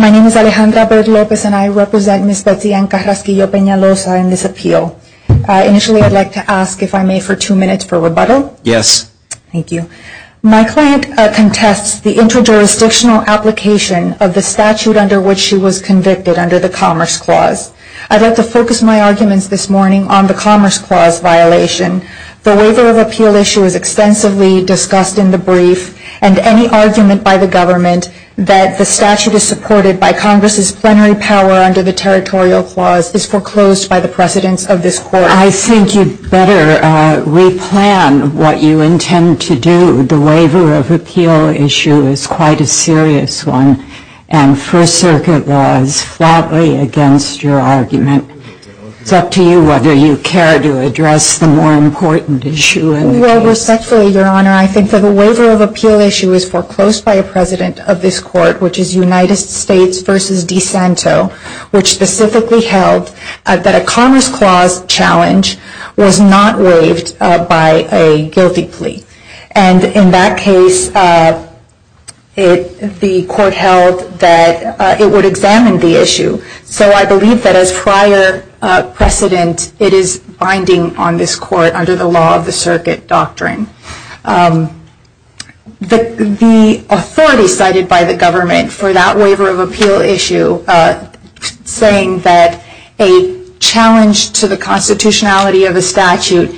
My name is Alejandra Baird Lopez and I represent Ms. Betsy Ann Carrasquillo-Penaloza in this appeal. Initially, I'd like to ask, if I may, for two minutes for rebuttal? Yes. Thank you. My client contests the inter-jurisdictional application of the statute under which she was convicted under the Commerce Clause. I'd like to focus my arguments this morning on the Commerce Clause violation. The waiver of appeal issue is extensively discussed in the brief, and any argument by the government that the statute is supported by Congress's plenary power under the Territorial Clause is foreclosed by the precedence of this Court. I think you'd better replan what you intend to do. The waiver of appeal issue is quite a serious one, and First Circuit laws floutly against your argument. It's up to you whether you care to address the more important issue in the case. I do well, respectfully, Your Honor. I think that the waiver of appeal issue is foreclosed by a precedent of this Court, which is United States v. DeSanto, which specifically held that a Commerce Clause challenge was not waived by a guilty plea. And in that case, the Court held that it would examine the issue. So I believe that as prior precedent, it is binding on this Court under the law of the circuit doctrine. The authority cited by the government for that waiver of appeal issue, saying that a challenge to the constitutionality of a statute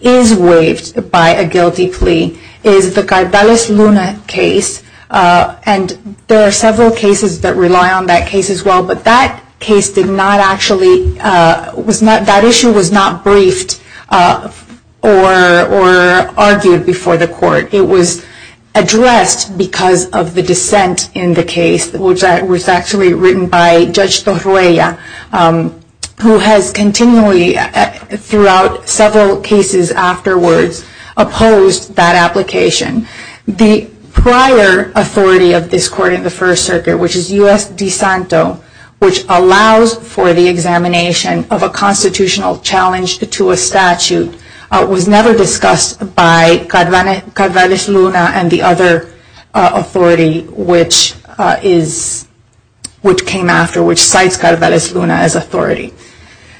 is waived by a guilty plea, is the Cardales-Luna case. And there are several cases that rely on that case as well, but that case did not actually, that issue was not briefed or argued before the Court. It was addressed because of the dissent in the case, which was actually written by Judge Torruella, who has continually throughout several cases afterwards, opposed that application. The prior authority of this Court in the First Circuit, which is U.S. v. DeSanto, which allows for the examination of a constitutional challenge to a statute, was never discussed by Cardales-Luna and the other authority which came after, which cites Cardales-Luna as authority.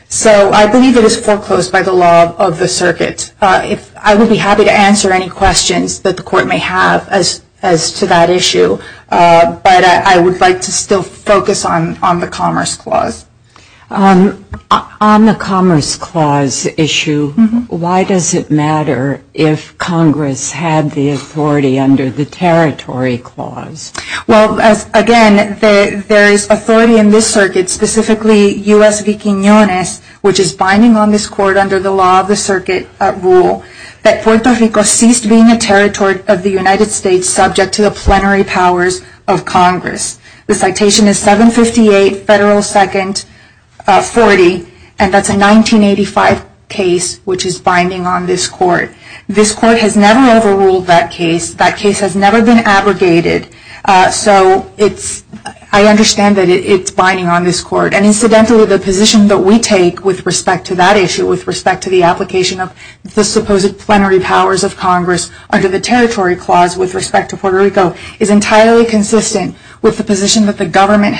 So I believe it is foreclosed by the law of the circuit. I would be happy to answer any questions that the Court may have as to that issue, but I would like to still focus on the Commerce Clause. On the Commerce Clause issue, why does it matter if Congress had the authority under the Territory Clause? Well, again, there is authority in this circuit, specifically U.S. v. Quiñones, which is binding on this Court under the law of the circuit rule, that Puerto Rico ceased being a territory of the United States subject to the plenary powers of Congress. The citation is 758 Federal 2nd 40, and that is a 1985 case which is binding on this Court. This Court has never overruled that case. That case has never been abrogated. So I understand that it is binding on this Court, and incidentally the position that we take with respect to that issue, with respect to the application of the supposed plenary powers of Congress under the Territory Clause with respect to Puerto Rico, is entirely consistent with the position that the Government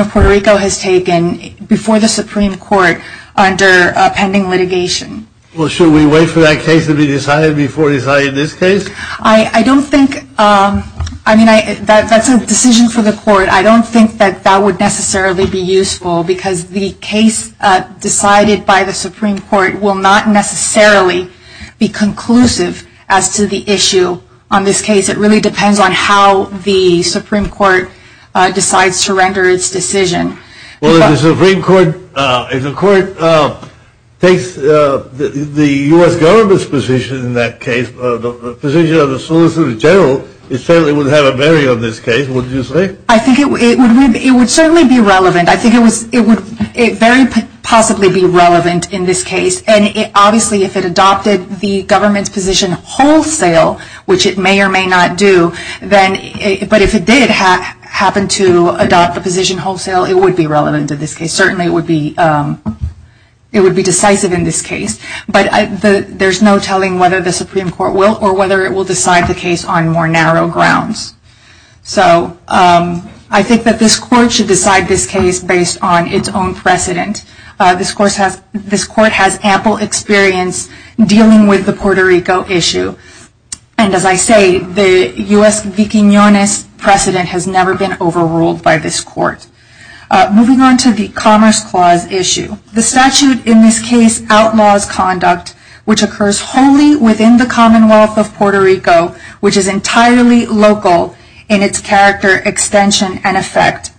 of Puerto Rico has taken before the Supreme Court under pending litigation. Well, should we wait for that case to be decided before deciding this case? I don't think, I mean, that is a decision for the Court. I don't think that that would necessarily be useful because the case decided by the Supreme Court will not necessarily be conclusive as to the issue on this case. It really depends on how the Supreme Court decides to render its decision. Well, if the Supreme Court, if the Court takes the U.S. Government's position in that case, the position of the Solicitor General, it certainly would have a bearing on this case, wouldn't you say? I think it would certainly be relevant. I think it would very possibly be relevant in this case, and obviously if it adopted the Government's position wholesale, which it may or may not do, but if it did happen to adopt the position wholesale, it would be relevant in this case. Certainly it would be decisive in this case, but there is no telling whether the Supreme Court will or whether it will decide the case on more narrow grounds. So, I think that this Court should decide this case based on its own precedent. This Court has ample experience dealing with the Puerto Rico issue, and as I say, the U.S. v. Quiñones precedent has never been overruled by this Court. Moving on to the Commerce Clause issue. The statute in this case outlaws conduct which is not an individual in its character, extension, and effect.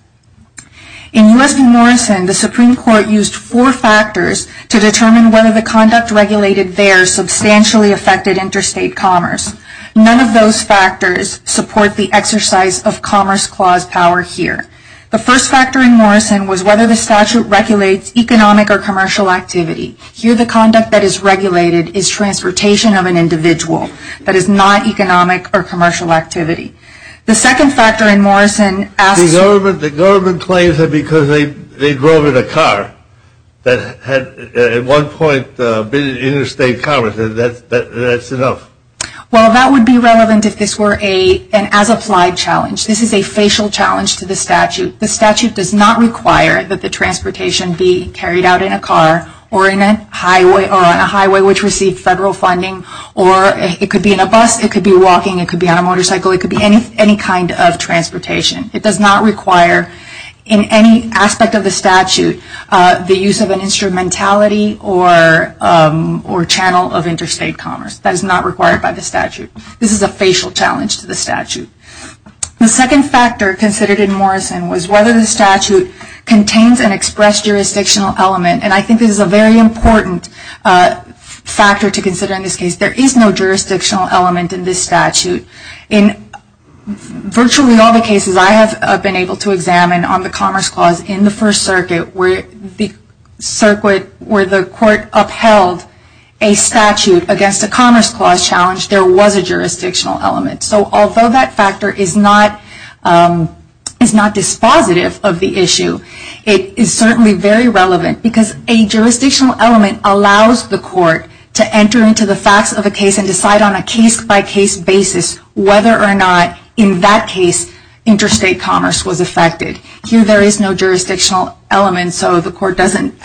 In U.S. v. Morrison, the Supreme Court used four factors to determine whether the conduct regulated there substantially affected interstate commerce. None of those factors support the exercise of Commerce Clause power here. The first factor in Morrison was whether the statute regulates economic or commercial activity. Here the conduct that is regulated is transportation of an individual that is not economic or commercial activity. The second factor in Morrison asks... The government claims that because they drove in a car that had at one point been interstate commerce. That's enough. Well, that would be relevant if this were an as-applied challenge. This is a facial challenge to the statute. The statute does not require that the transportation be federal funding or it could be in a bus, it could be walking, it could be on a motorcycle, it could be any kind of transportation. It does not require in any aspect of the statute the use of an instrumentality or channel of interstate commerce. That is not required by the statute. This is a facial challenge to the statute. The second factor considered in Morrison was whether the statute contains an jurisdictional element. There is no jurisdictional element in this statute. In virtually all the cases I have been able to examine on the Commerce Clause in the First Circuit where the court upheld a statute against a Commerce Clause challenge, there was a jurisdictional element. So although that factor is not dispositive of the issue, it is certainly very relevant because a jurisdictional element allows the court to enter into the facts of a case and decide on a case-by-case basis whether or not in that case interstate commerce was affected. Here there is no jurisdictional element, so the court isn't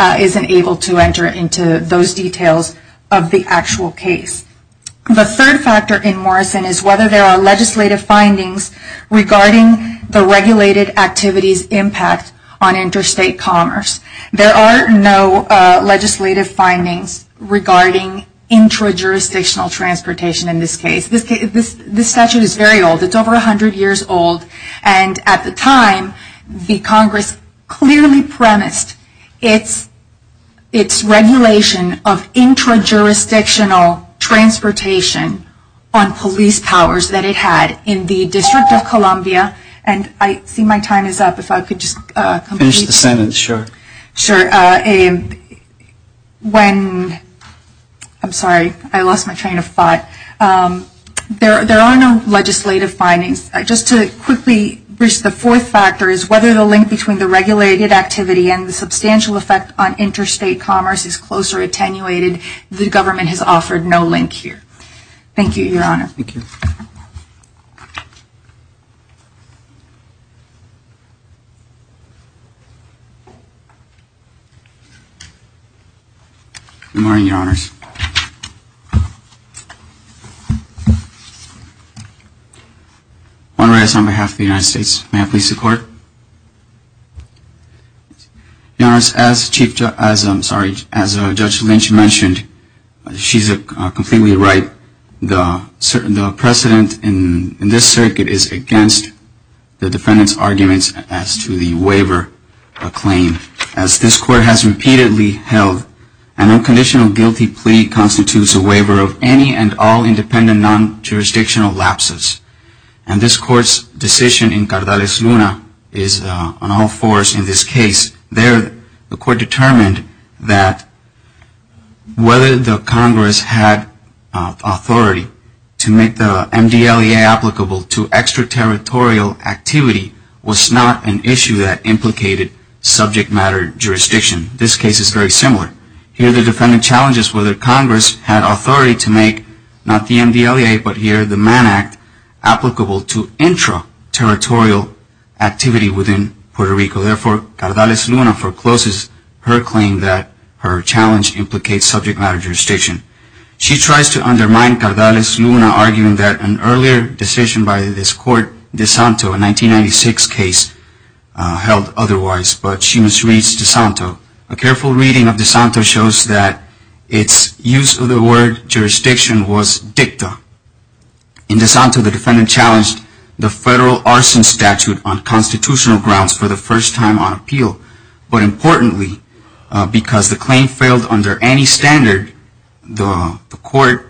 able to enter into those details of the actual case. The third factor in Morrison is whether there are legislative findings regarding the regulated activities impact on interstate commerce. There are no legislative findings regarding intra-jurisdictional transportation in this case. This statute is very old. It is over 100 years old and at the time the Congress clearly premised its regulation of intra-jurisdictional transportation on police powers that it had in the District of Columbia and I see my time is up. If I could just finish the sentence. Sure. Sure. When, I'm sorry, I lost my train of thought. There are no legislative findings. Just to quickly, the fourth factor is whether the link between the regulated activity and the substantial effect on interstate commerce is close or attenuated. The government has offered no link here. Thank you, Your Honor. Thank you. Good morning, Your Honors. I want to rise on behalf of the United States. May I please introduce the court? Your Honors, as Judge Lynch mentioned, she is completely right. The precedent in this circuit is against the defendant's arguments as to the waiver claim. As this court has repeatedly held, an unconditional guilty plea constitutes a waiver of any and all independent non-jurisdictional lapses. And this court's decision in Cardales-Luna is on all fours in this case. There the court determined that whether the Congress had authority to make the MDLEA applicable to extraterritorial activity was not an issue that implicated subject matter jurisdiction. This case is very similar. Here the defendant challenges whether Congress had authority to make not the MDLEA but here the Mann Act applicable to intra-territorial activity within Puerto Rico. Therefore, Cardales-Luna forecloses her claim that her challenge implicates subject matter jurisdiction. She tries to undermine Cardales-Luna, arguing that an earlier decision by this court, DeSanto, a 1996 case, held otherwise. But she misreads DeSanto. A careful reading of DeSanto shows that its use of the word jurisdiction was dicta. In DeSanto, the defendant challenged the federal arson statute on constitutional grounds for the first time on appeal. But importantly, because the claim failed under any circumstances, the defendant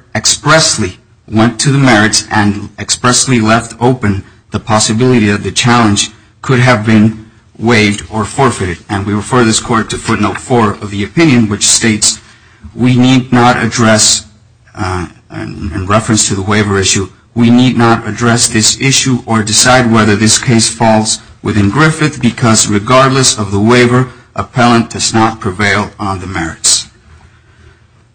could have been waived or forfeited. And we refer this court to footnote 4 of the opinion, which states, we need not address, in reference to the waiver issue, we need not address this issue or decide whether this case falls within Griffith because regardless of the waiver, appellant does not prevail on the merits.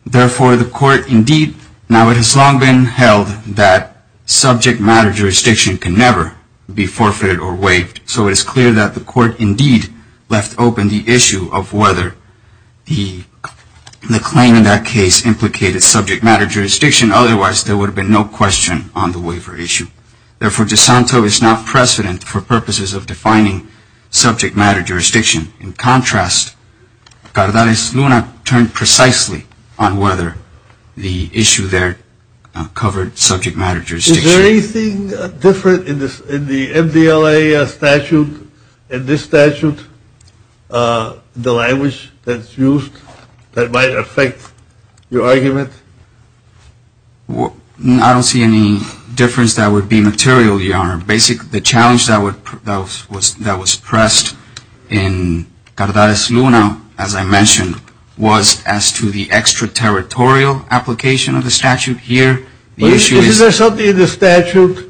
Therefore, the court indeed, now it has long been held that subject matter jurisdiction can never be forfeited or waived. So it is clear that the court indeed left open the issue of whether the claim in that case implicated subject matter jurisdiction. Otherwise, there would have been no question on the waiver issue. Therefore, DeSanto is not precedent for purposes of defining subject matter jurisdiction. In contrast, Cardales-Luna turned precisely on whether the issue there covered subject matter jurisdiction. Is there anything different in the MDLA statute, in this statute, the language that's used that might affect your argument? I don't see any difference that would be material, Your Honor. Basically, the challenge that was pressed in Cardales-Luna, as I mentioned, was as to the extraterritorial application of the statute here. Is there something in the statute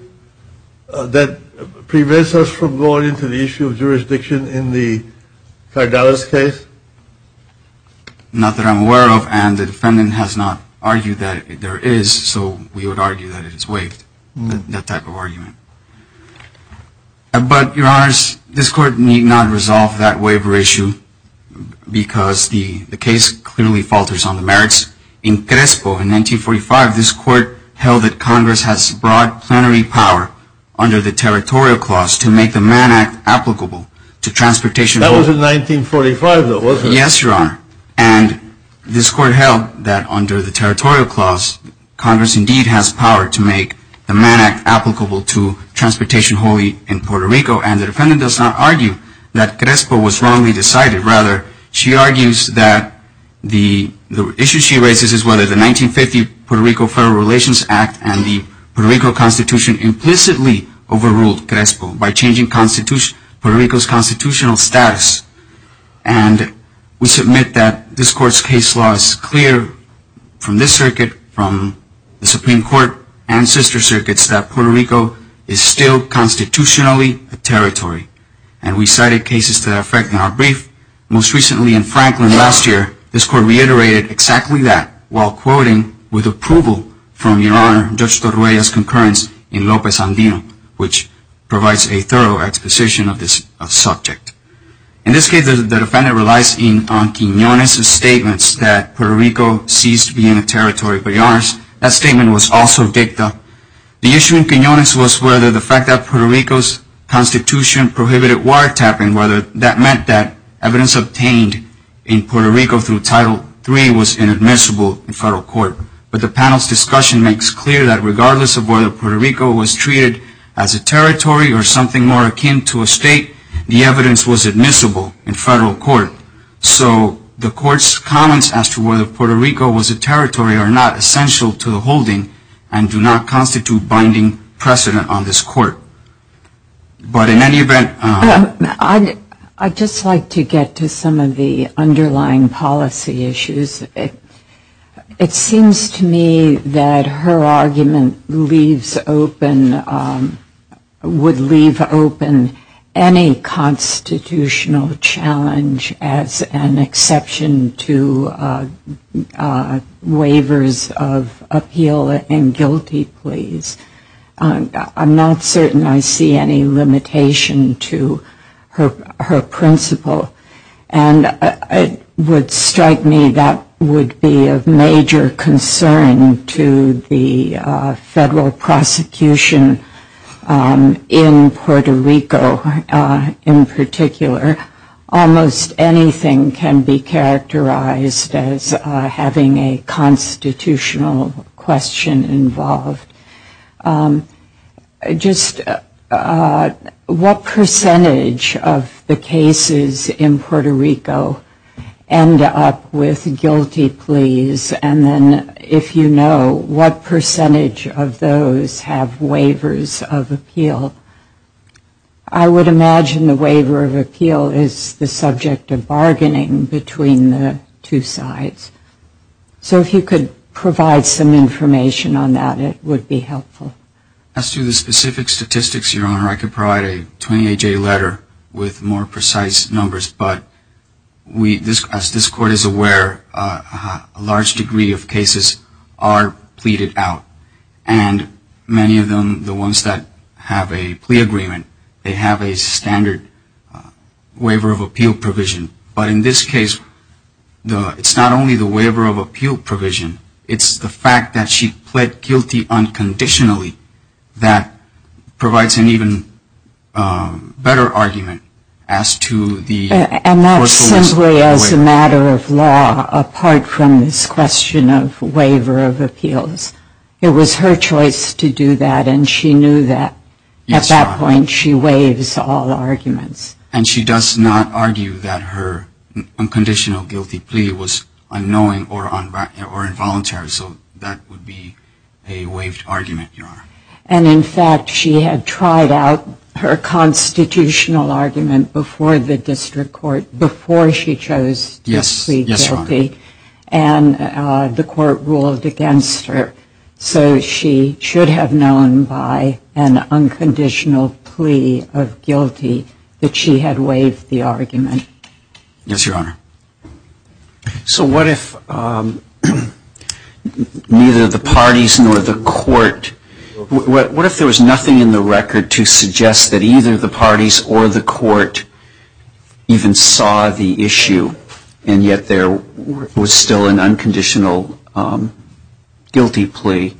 that prevents us from going into the issue of jurisdiction in the Cardales case? Not that I'm aware of, and the defendant has not argued that there is, so we would argue that it is waived, that type of argument. But, Your Honors, this Court need not resolve that waiver issue because the case clearly falters on the merits. In Crespo, in 1945, this Court held that Congress has broad plenary power under the Territorial Clause to make the Mann Act applicable to transportation. That was in 1945, though, wasn't it? Yes, Your Honor, and this Court held that under the Territorial Clause, Congress indeed has power to make the Mann Act applicable to transportation wholly in Puerto Rico, and the defendant does not argue that Crespo was wrongly decided. Rather, she argues that the issue she raises is whether the 1950 Puerto Rico Federal Relations Act and the Puerto Rico Constitution implicitly overruled Crespo by changing Puerto Rico's constitutional status. And we submit that this Court's case law is clear from this circuit, from the Supreme Court, and sister circuits, that Puerto Rico is still constitutionally a territory. And we cited cases to that effect in our brief. Most recently in Franklin last year, this Court reiterated exactly that while quoting with approval from Your Honor, Judge Mendoza, that Puerto Rico is still a territory. And in this case, the defendant relies on Quiñones' statements that Puerto Rico ceased being a territory. But Your Honors, that statement was also dicta. The issue in Quiñones was whether the fact that Puerto Rico's Constitution prohibited wiretapping, whether that meant that evidence obtained in Puerto Rico through Title III was inadmissible in federal court. But the panel's discussion makes clear that regardless of whether Puerto Rico was treated as a territory or something more akin to a state, the evidence was admissible in federal court. So the Court's comments as to whether Puerto Rico was a territory are not essential to the holding and do not constitute binding precedent on this Court. But in any event... I'd just like to get to some of the underlying policy issues. It seems to me that her argument leaves open, would leave open any constitutional challenge as an exception to waivers of appeal and guilty pleas. I'm not certain I see any limitation to her principle. And it would strike me that would be of major concern to the federal prosecution in Puerto Rico in particular. Almost anything can be characterized as having a constitutional question involved. Just what percentage of the cases in Puerto Rico end up with guilty pleas? And then if you know, what percentage of those have waivers of appeal? I would imagine the waiver of appeal is the subject of bargaining between the two sides. So if you could provide some information on that, it would be helpful. As to the specific statistics, Your Honor, I could provide a 28-J letter with more precise numbers. But as this Court is aware, a large degree of cases are pleaded out. And many of them, the ones that have a plea agreement, they have a standard waiver of appeal provision. But in this case, it's not only the waiver of appeal provision. It's the fact that she pled guilty unconditionally that provides an even better argument as to the... As a matter of law, apart from this question of waiver of appeals, it was her choice to do that, and she knew that. At that point, she waives all arguments. And she does not argue that her unconditional guilty plea was unknowing or involuntary. So that would be a waived argument, Your Honor. And in fact, she had tried out her constitutional argument before the District Court, before she chose to plead guilty. Yes, Your Honor. And the Court ruled against her. So she should have known by an unconditional plea of guilty that she had waived the argument. Yes, Your Honor. So what if neither the parties nor the Court... What if there was nothing in the record to suggest that either the parties or the Court even saw the issue, and yet there was still an unconditional guilty plea?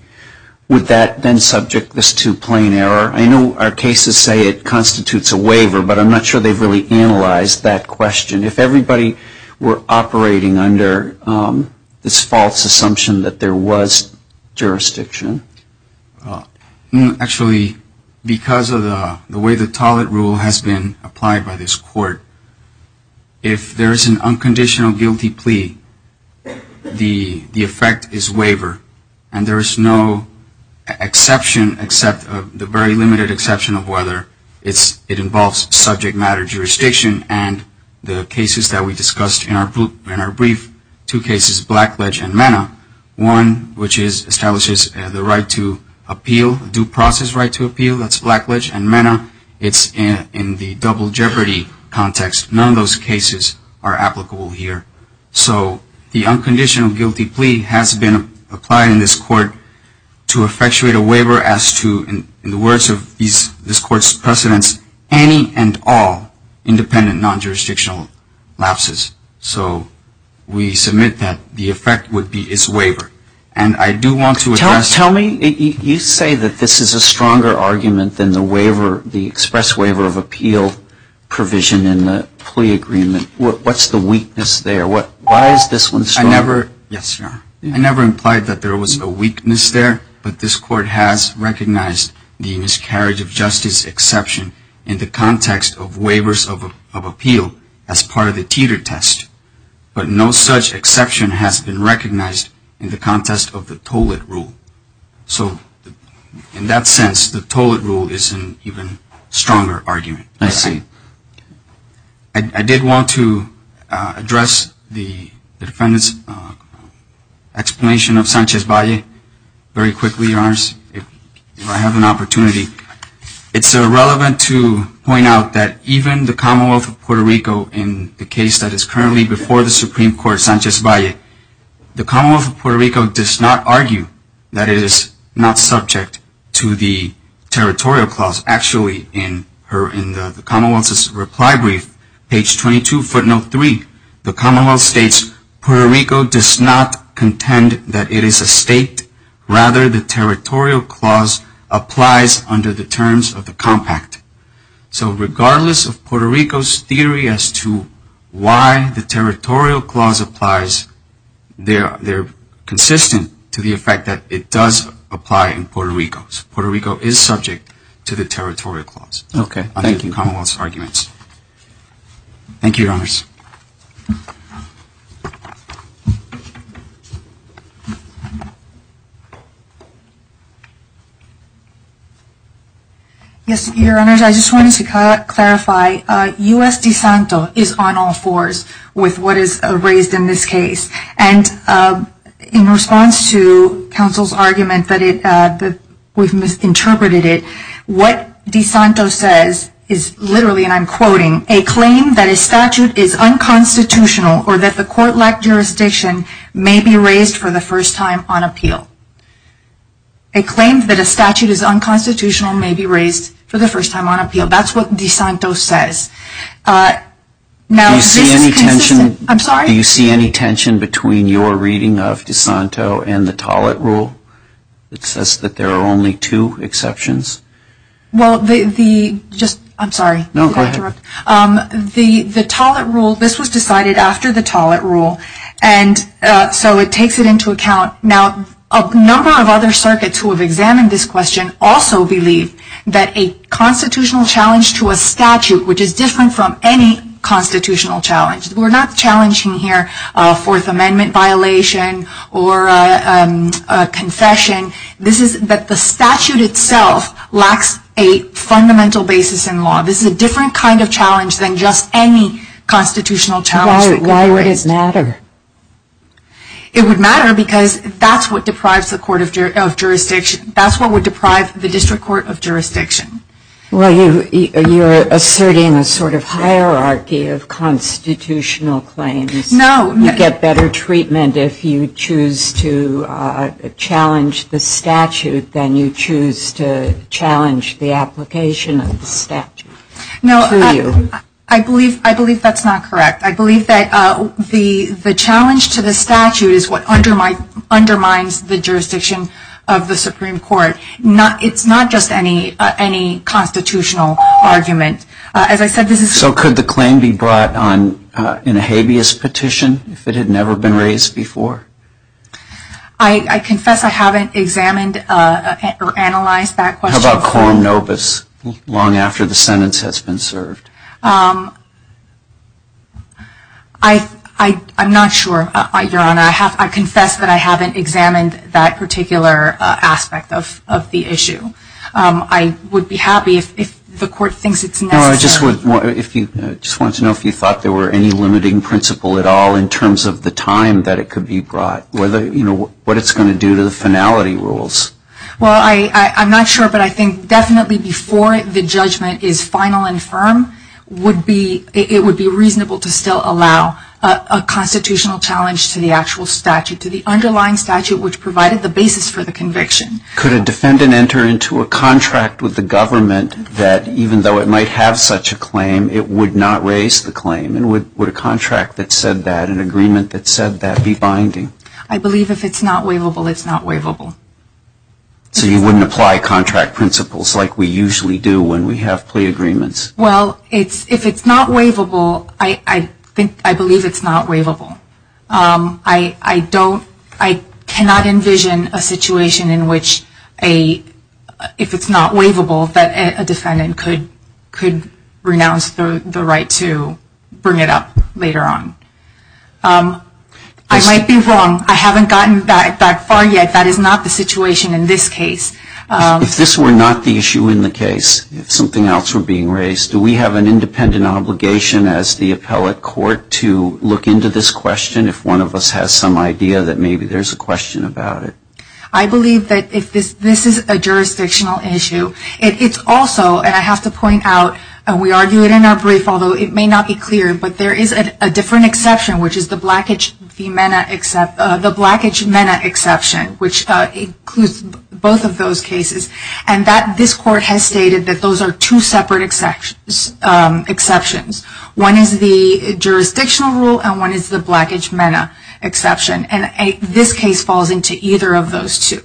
Would that then subject this to plain error? I know our cases say it constitutes a waiver, but I'm not sure they've really analyzed that question. If everybody were operating under this false assumption that there was jurisdiction... Actually, because of the way the Tollett Rule has been applied by this Court, if there is an unconditional guilty plea, the effect is waiver, and there is no exception except the very limited exception of whether it involves subject matter jurisdiction and the cases that we discussed in our brief, two cases, Blackledge and Mena. One, which establishes the right to appeal, due process right to appeal, that's Blackledge and Mena. It's in the double jeopardy context. None of those cases are applicable here. So the unconditional guilty plea has been applied in this Court to effectuate a waiver as to, in the words of this Court's precedents, any and all independent non-jurisdictional lapses. So we submit that the effect would be its waiver. And I do want to address... Tell me, you say that this is a stronger argument than the waiver, the express waiver of appeal provision in the plea agreement. What's the weakness there? Why is this one stronger? I never implied that there was a weakness there, but this Court has recognized the miscarriage of justice exception in the context of waivers of appeal as part of the teeter test. But no such exception has been recognized in the context of the toll-it rule. So in that sense, the toll-it rule is an even stronger argument. I see. I did want to address the defendant's explanation of Sanchez-Valle very quickly, Your Honors, if I have an opportunity. It's relevant to point out that even the Commonwealth of Puerto Rico, in the case that is currently before the Supreme Court, Sanchez-Valle, the Commonwealth of Puerto Rico does not argue that it is not subject to the territorial clause. Actually, in the Commonwealth's reply brief, page 22, footnote 3, the Commonwealth states, Puerto Rico does not contend that it is a state. Rather, the territorial clause applies under the terms of the compact. So regardless of Puerto Rico's theory as to why the territorial clause applies, they're consistent to the effect that it does apply in Puerto Rico. It's not subject to the territorial clause. Puerto Rico is subject to the territorial clause. Okay, thank you. Under the Commonwealth's arguments. Thank you, Your Honors. Yes, Your Honors, I just wanted to clarify. U.S. DeSanto is on all fours with what is raised in this case. And in response to counsel's argument that we've misinterpreted it, what DeSanto says is literally, and I'm quoting, a claim that a statute is unconstitutional or that the court-like jurisdiction may be raised for the first time on appeal. A claim that a statute is unconstitutional may be raised for the first time on appeal. That's what DeSanto says. Do you see any tension between your reading of DeSanto and the Tollett Rule that says that there are only two exceptions? Well, the, just, I'm sorry. No, go ahead. The Tollett Rule, this was decided after the Tollett Rule, and so it takes it into account. Now a number of other circuits who have examined this question also believe that a constitutional challenge to a statute, which is different from any constitutional challenge. We're not challenging here a Fourth Amendment violation or a confession. This is that the statute itself lacks a fundamental basis in law. This is a different kind of challenge than just any constitutional challenge. Why would it matter? It would matter because that's what deprives the court of jurisdiction. That's what would deprive the district court of jurisdiction. Well, you're asserting a sort of hierarchy of constitutional claims. No. You get better treatment if you choose to challenge the statute than you choose to challenge the application of the statute. No, I believe that's not correct. I believe that the challenge to the statute is what undermines the jurisdiction of the Supreme Court. It's not just any constitutional argument. As I said, this is. So could the claim be brought in a habeas petition if it had never been raised before? I confess I haven't examined or analyzed that question. How about quorum nobis long after the sentence has been served? I'm not sure, Your Honor. I confess that I haven't examined that particular aspect of the issue. I would be happy if the court thinks it's necessary. No, I just wanted to know if you thought there were any limiting principle at all in terms of the time that it could be brought, what it's going to do to the finality rules. Well, I'm not sure, but I think definitely before the judgment is final and firm, it would be reasonable to still allow a constitutional challenge to the actual statute, to the underlying statute, which provided the basis for the conviction. Could a defendant enter into a contract with the government that, even though it might have such a claim, it would not raise the claim? And would a contract that said that, an agreement that said that, be binding? I believe if it's not waivable, it's not waivable. So you wouldn't apply contract principles like we usually do when we have plea agreements? Well, if it's not waivable, I believe it's not waivable. I cannot envision a situation in which, if it's not waivable, that a defendant could renounce the right to bring it up later on. I might be wrong. I haven't gotten that far yet. That is not the situation in this case. If this were not the issue in the case, if something else were being raised, do we have an independent obligation as the appellate court to look into this question, if one of us has some idea that maybe there's a question about it? I believe that if this is a jurisdictional issue, it's also, and I have to point out, and we argue it in our brief, although it may not be clear, but there is a different exception, which is the Blackidge-Mena exception, which includes both of those cases, and this court has stated that those are two separate exceptions. One is the jurisdictional rule, and one is the Blackidge-Mena exception, and this case falls into either of those two.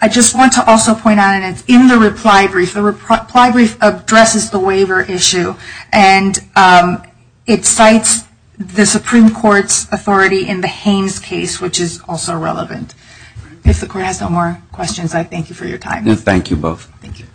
I just want to also point out, and it's in the reply brief, the reply brief addresses the waiver issue, and it cites the Supreme Court's authority in the Haines case, which is also relevant. If the court has no more questions, I thank you for your time. Thank you both. Thank you.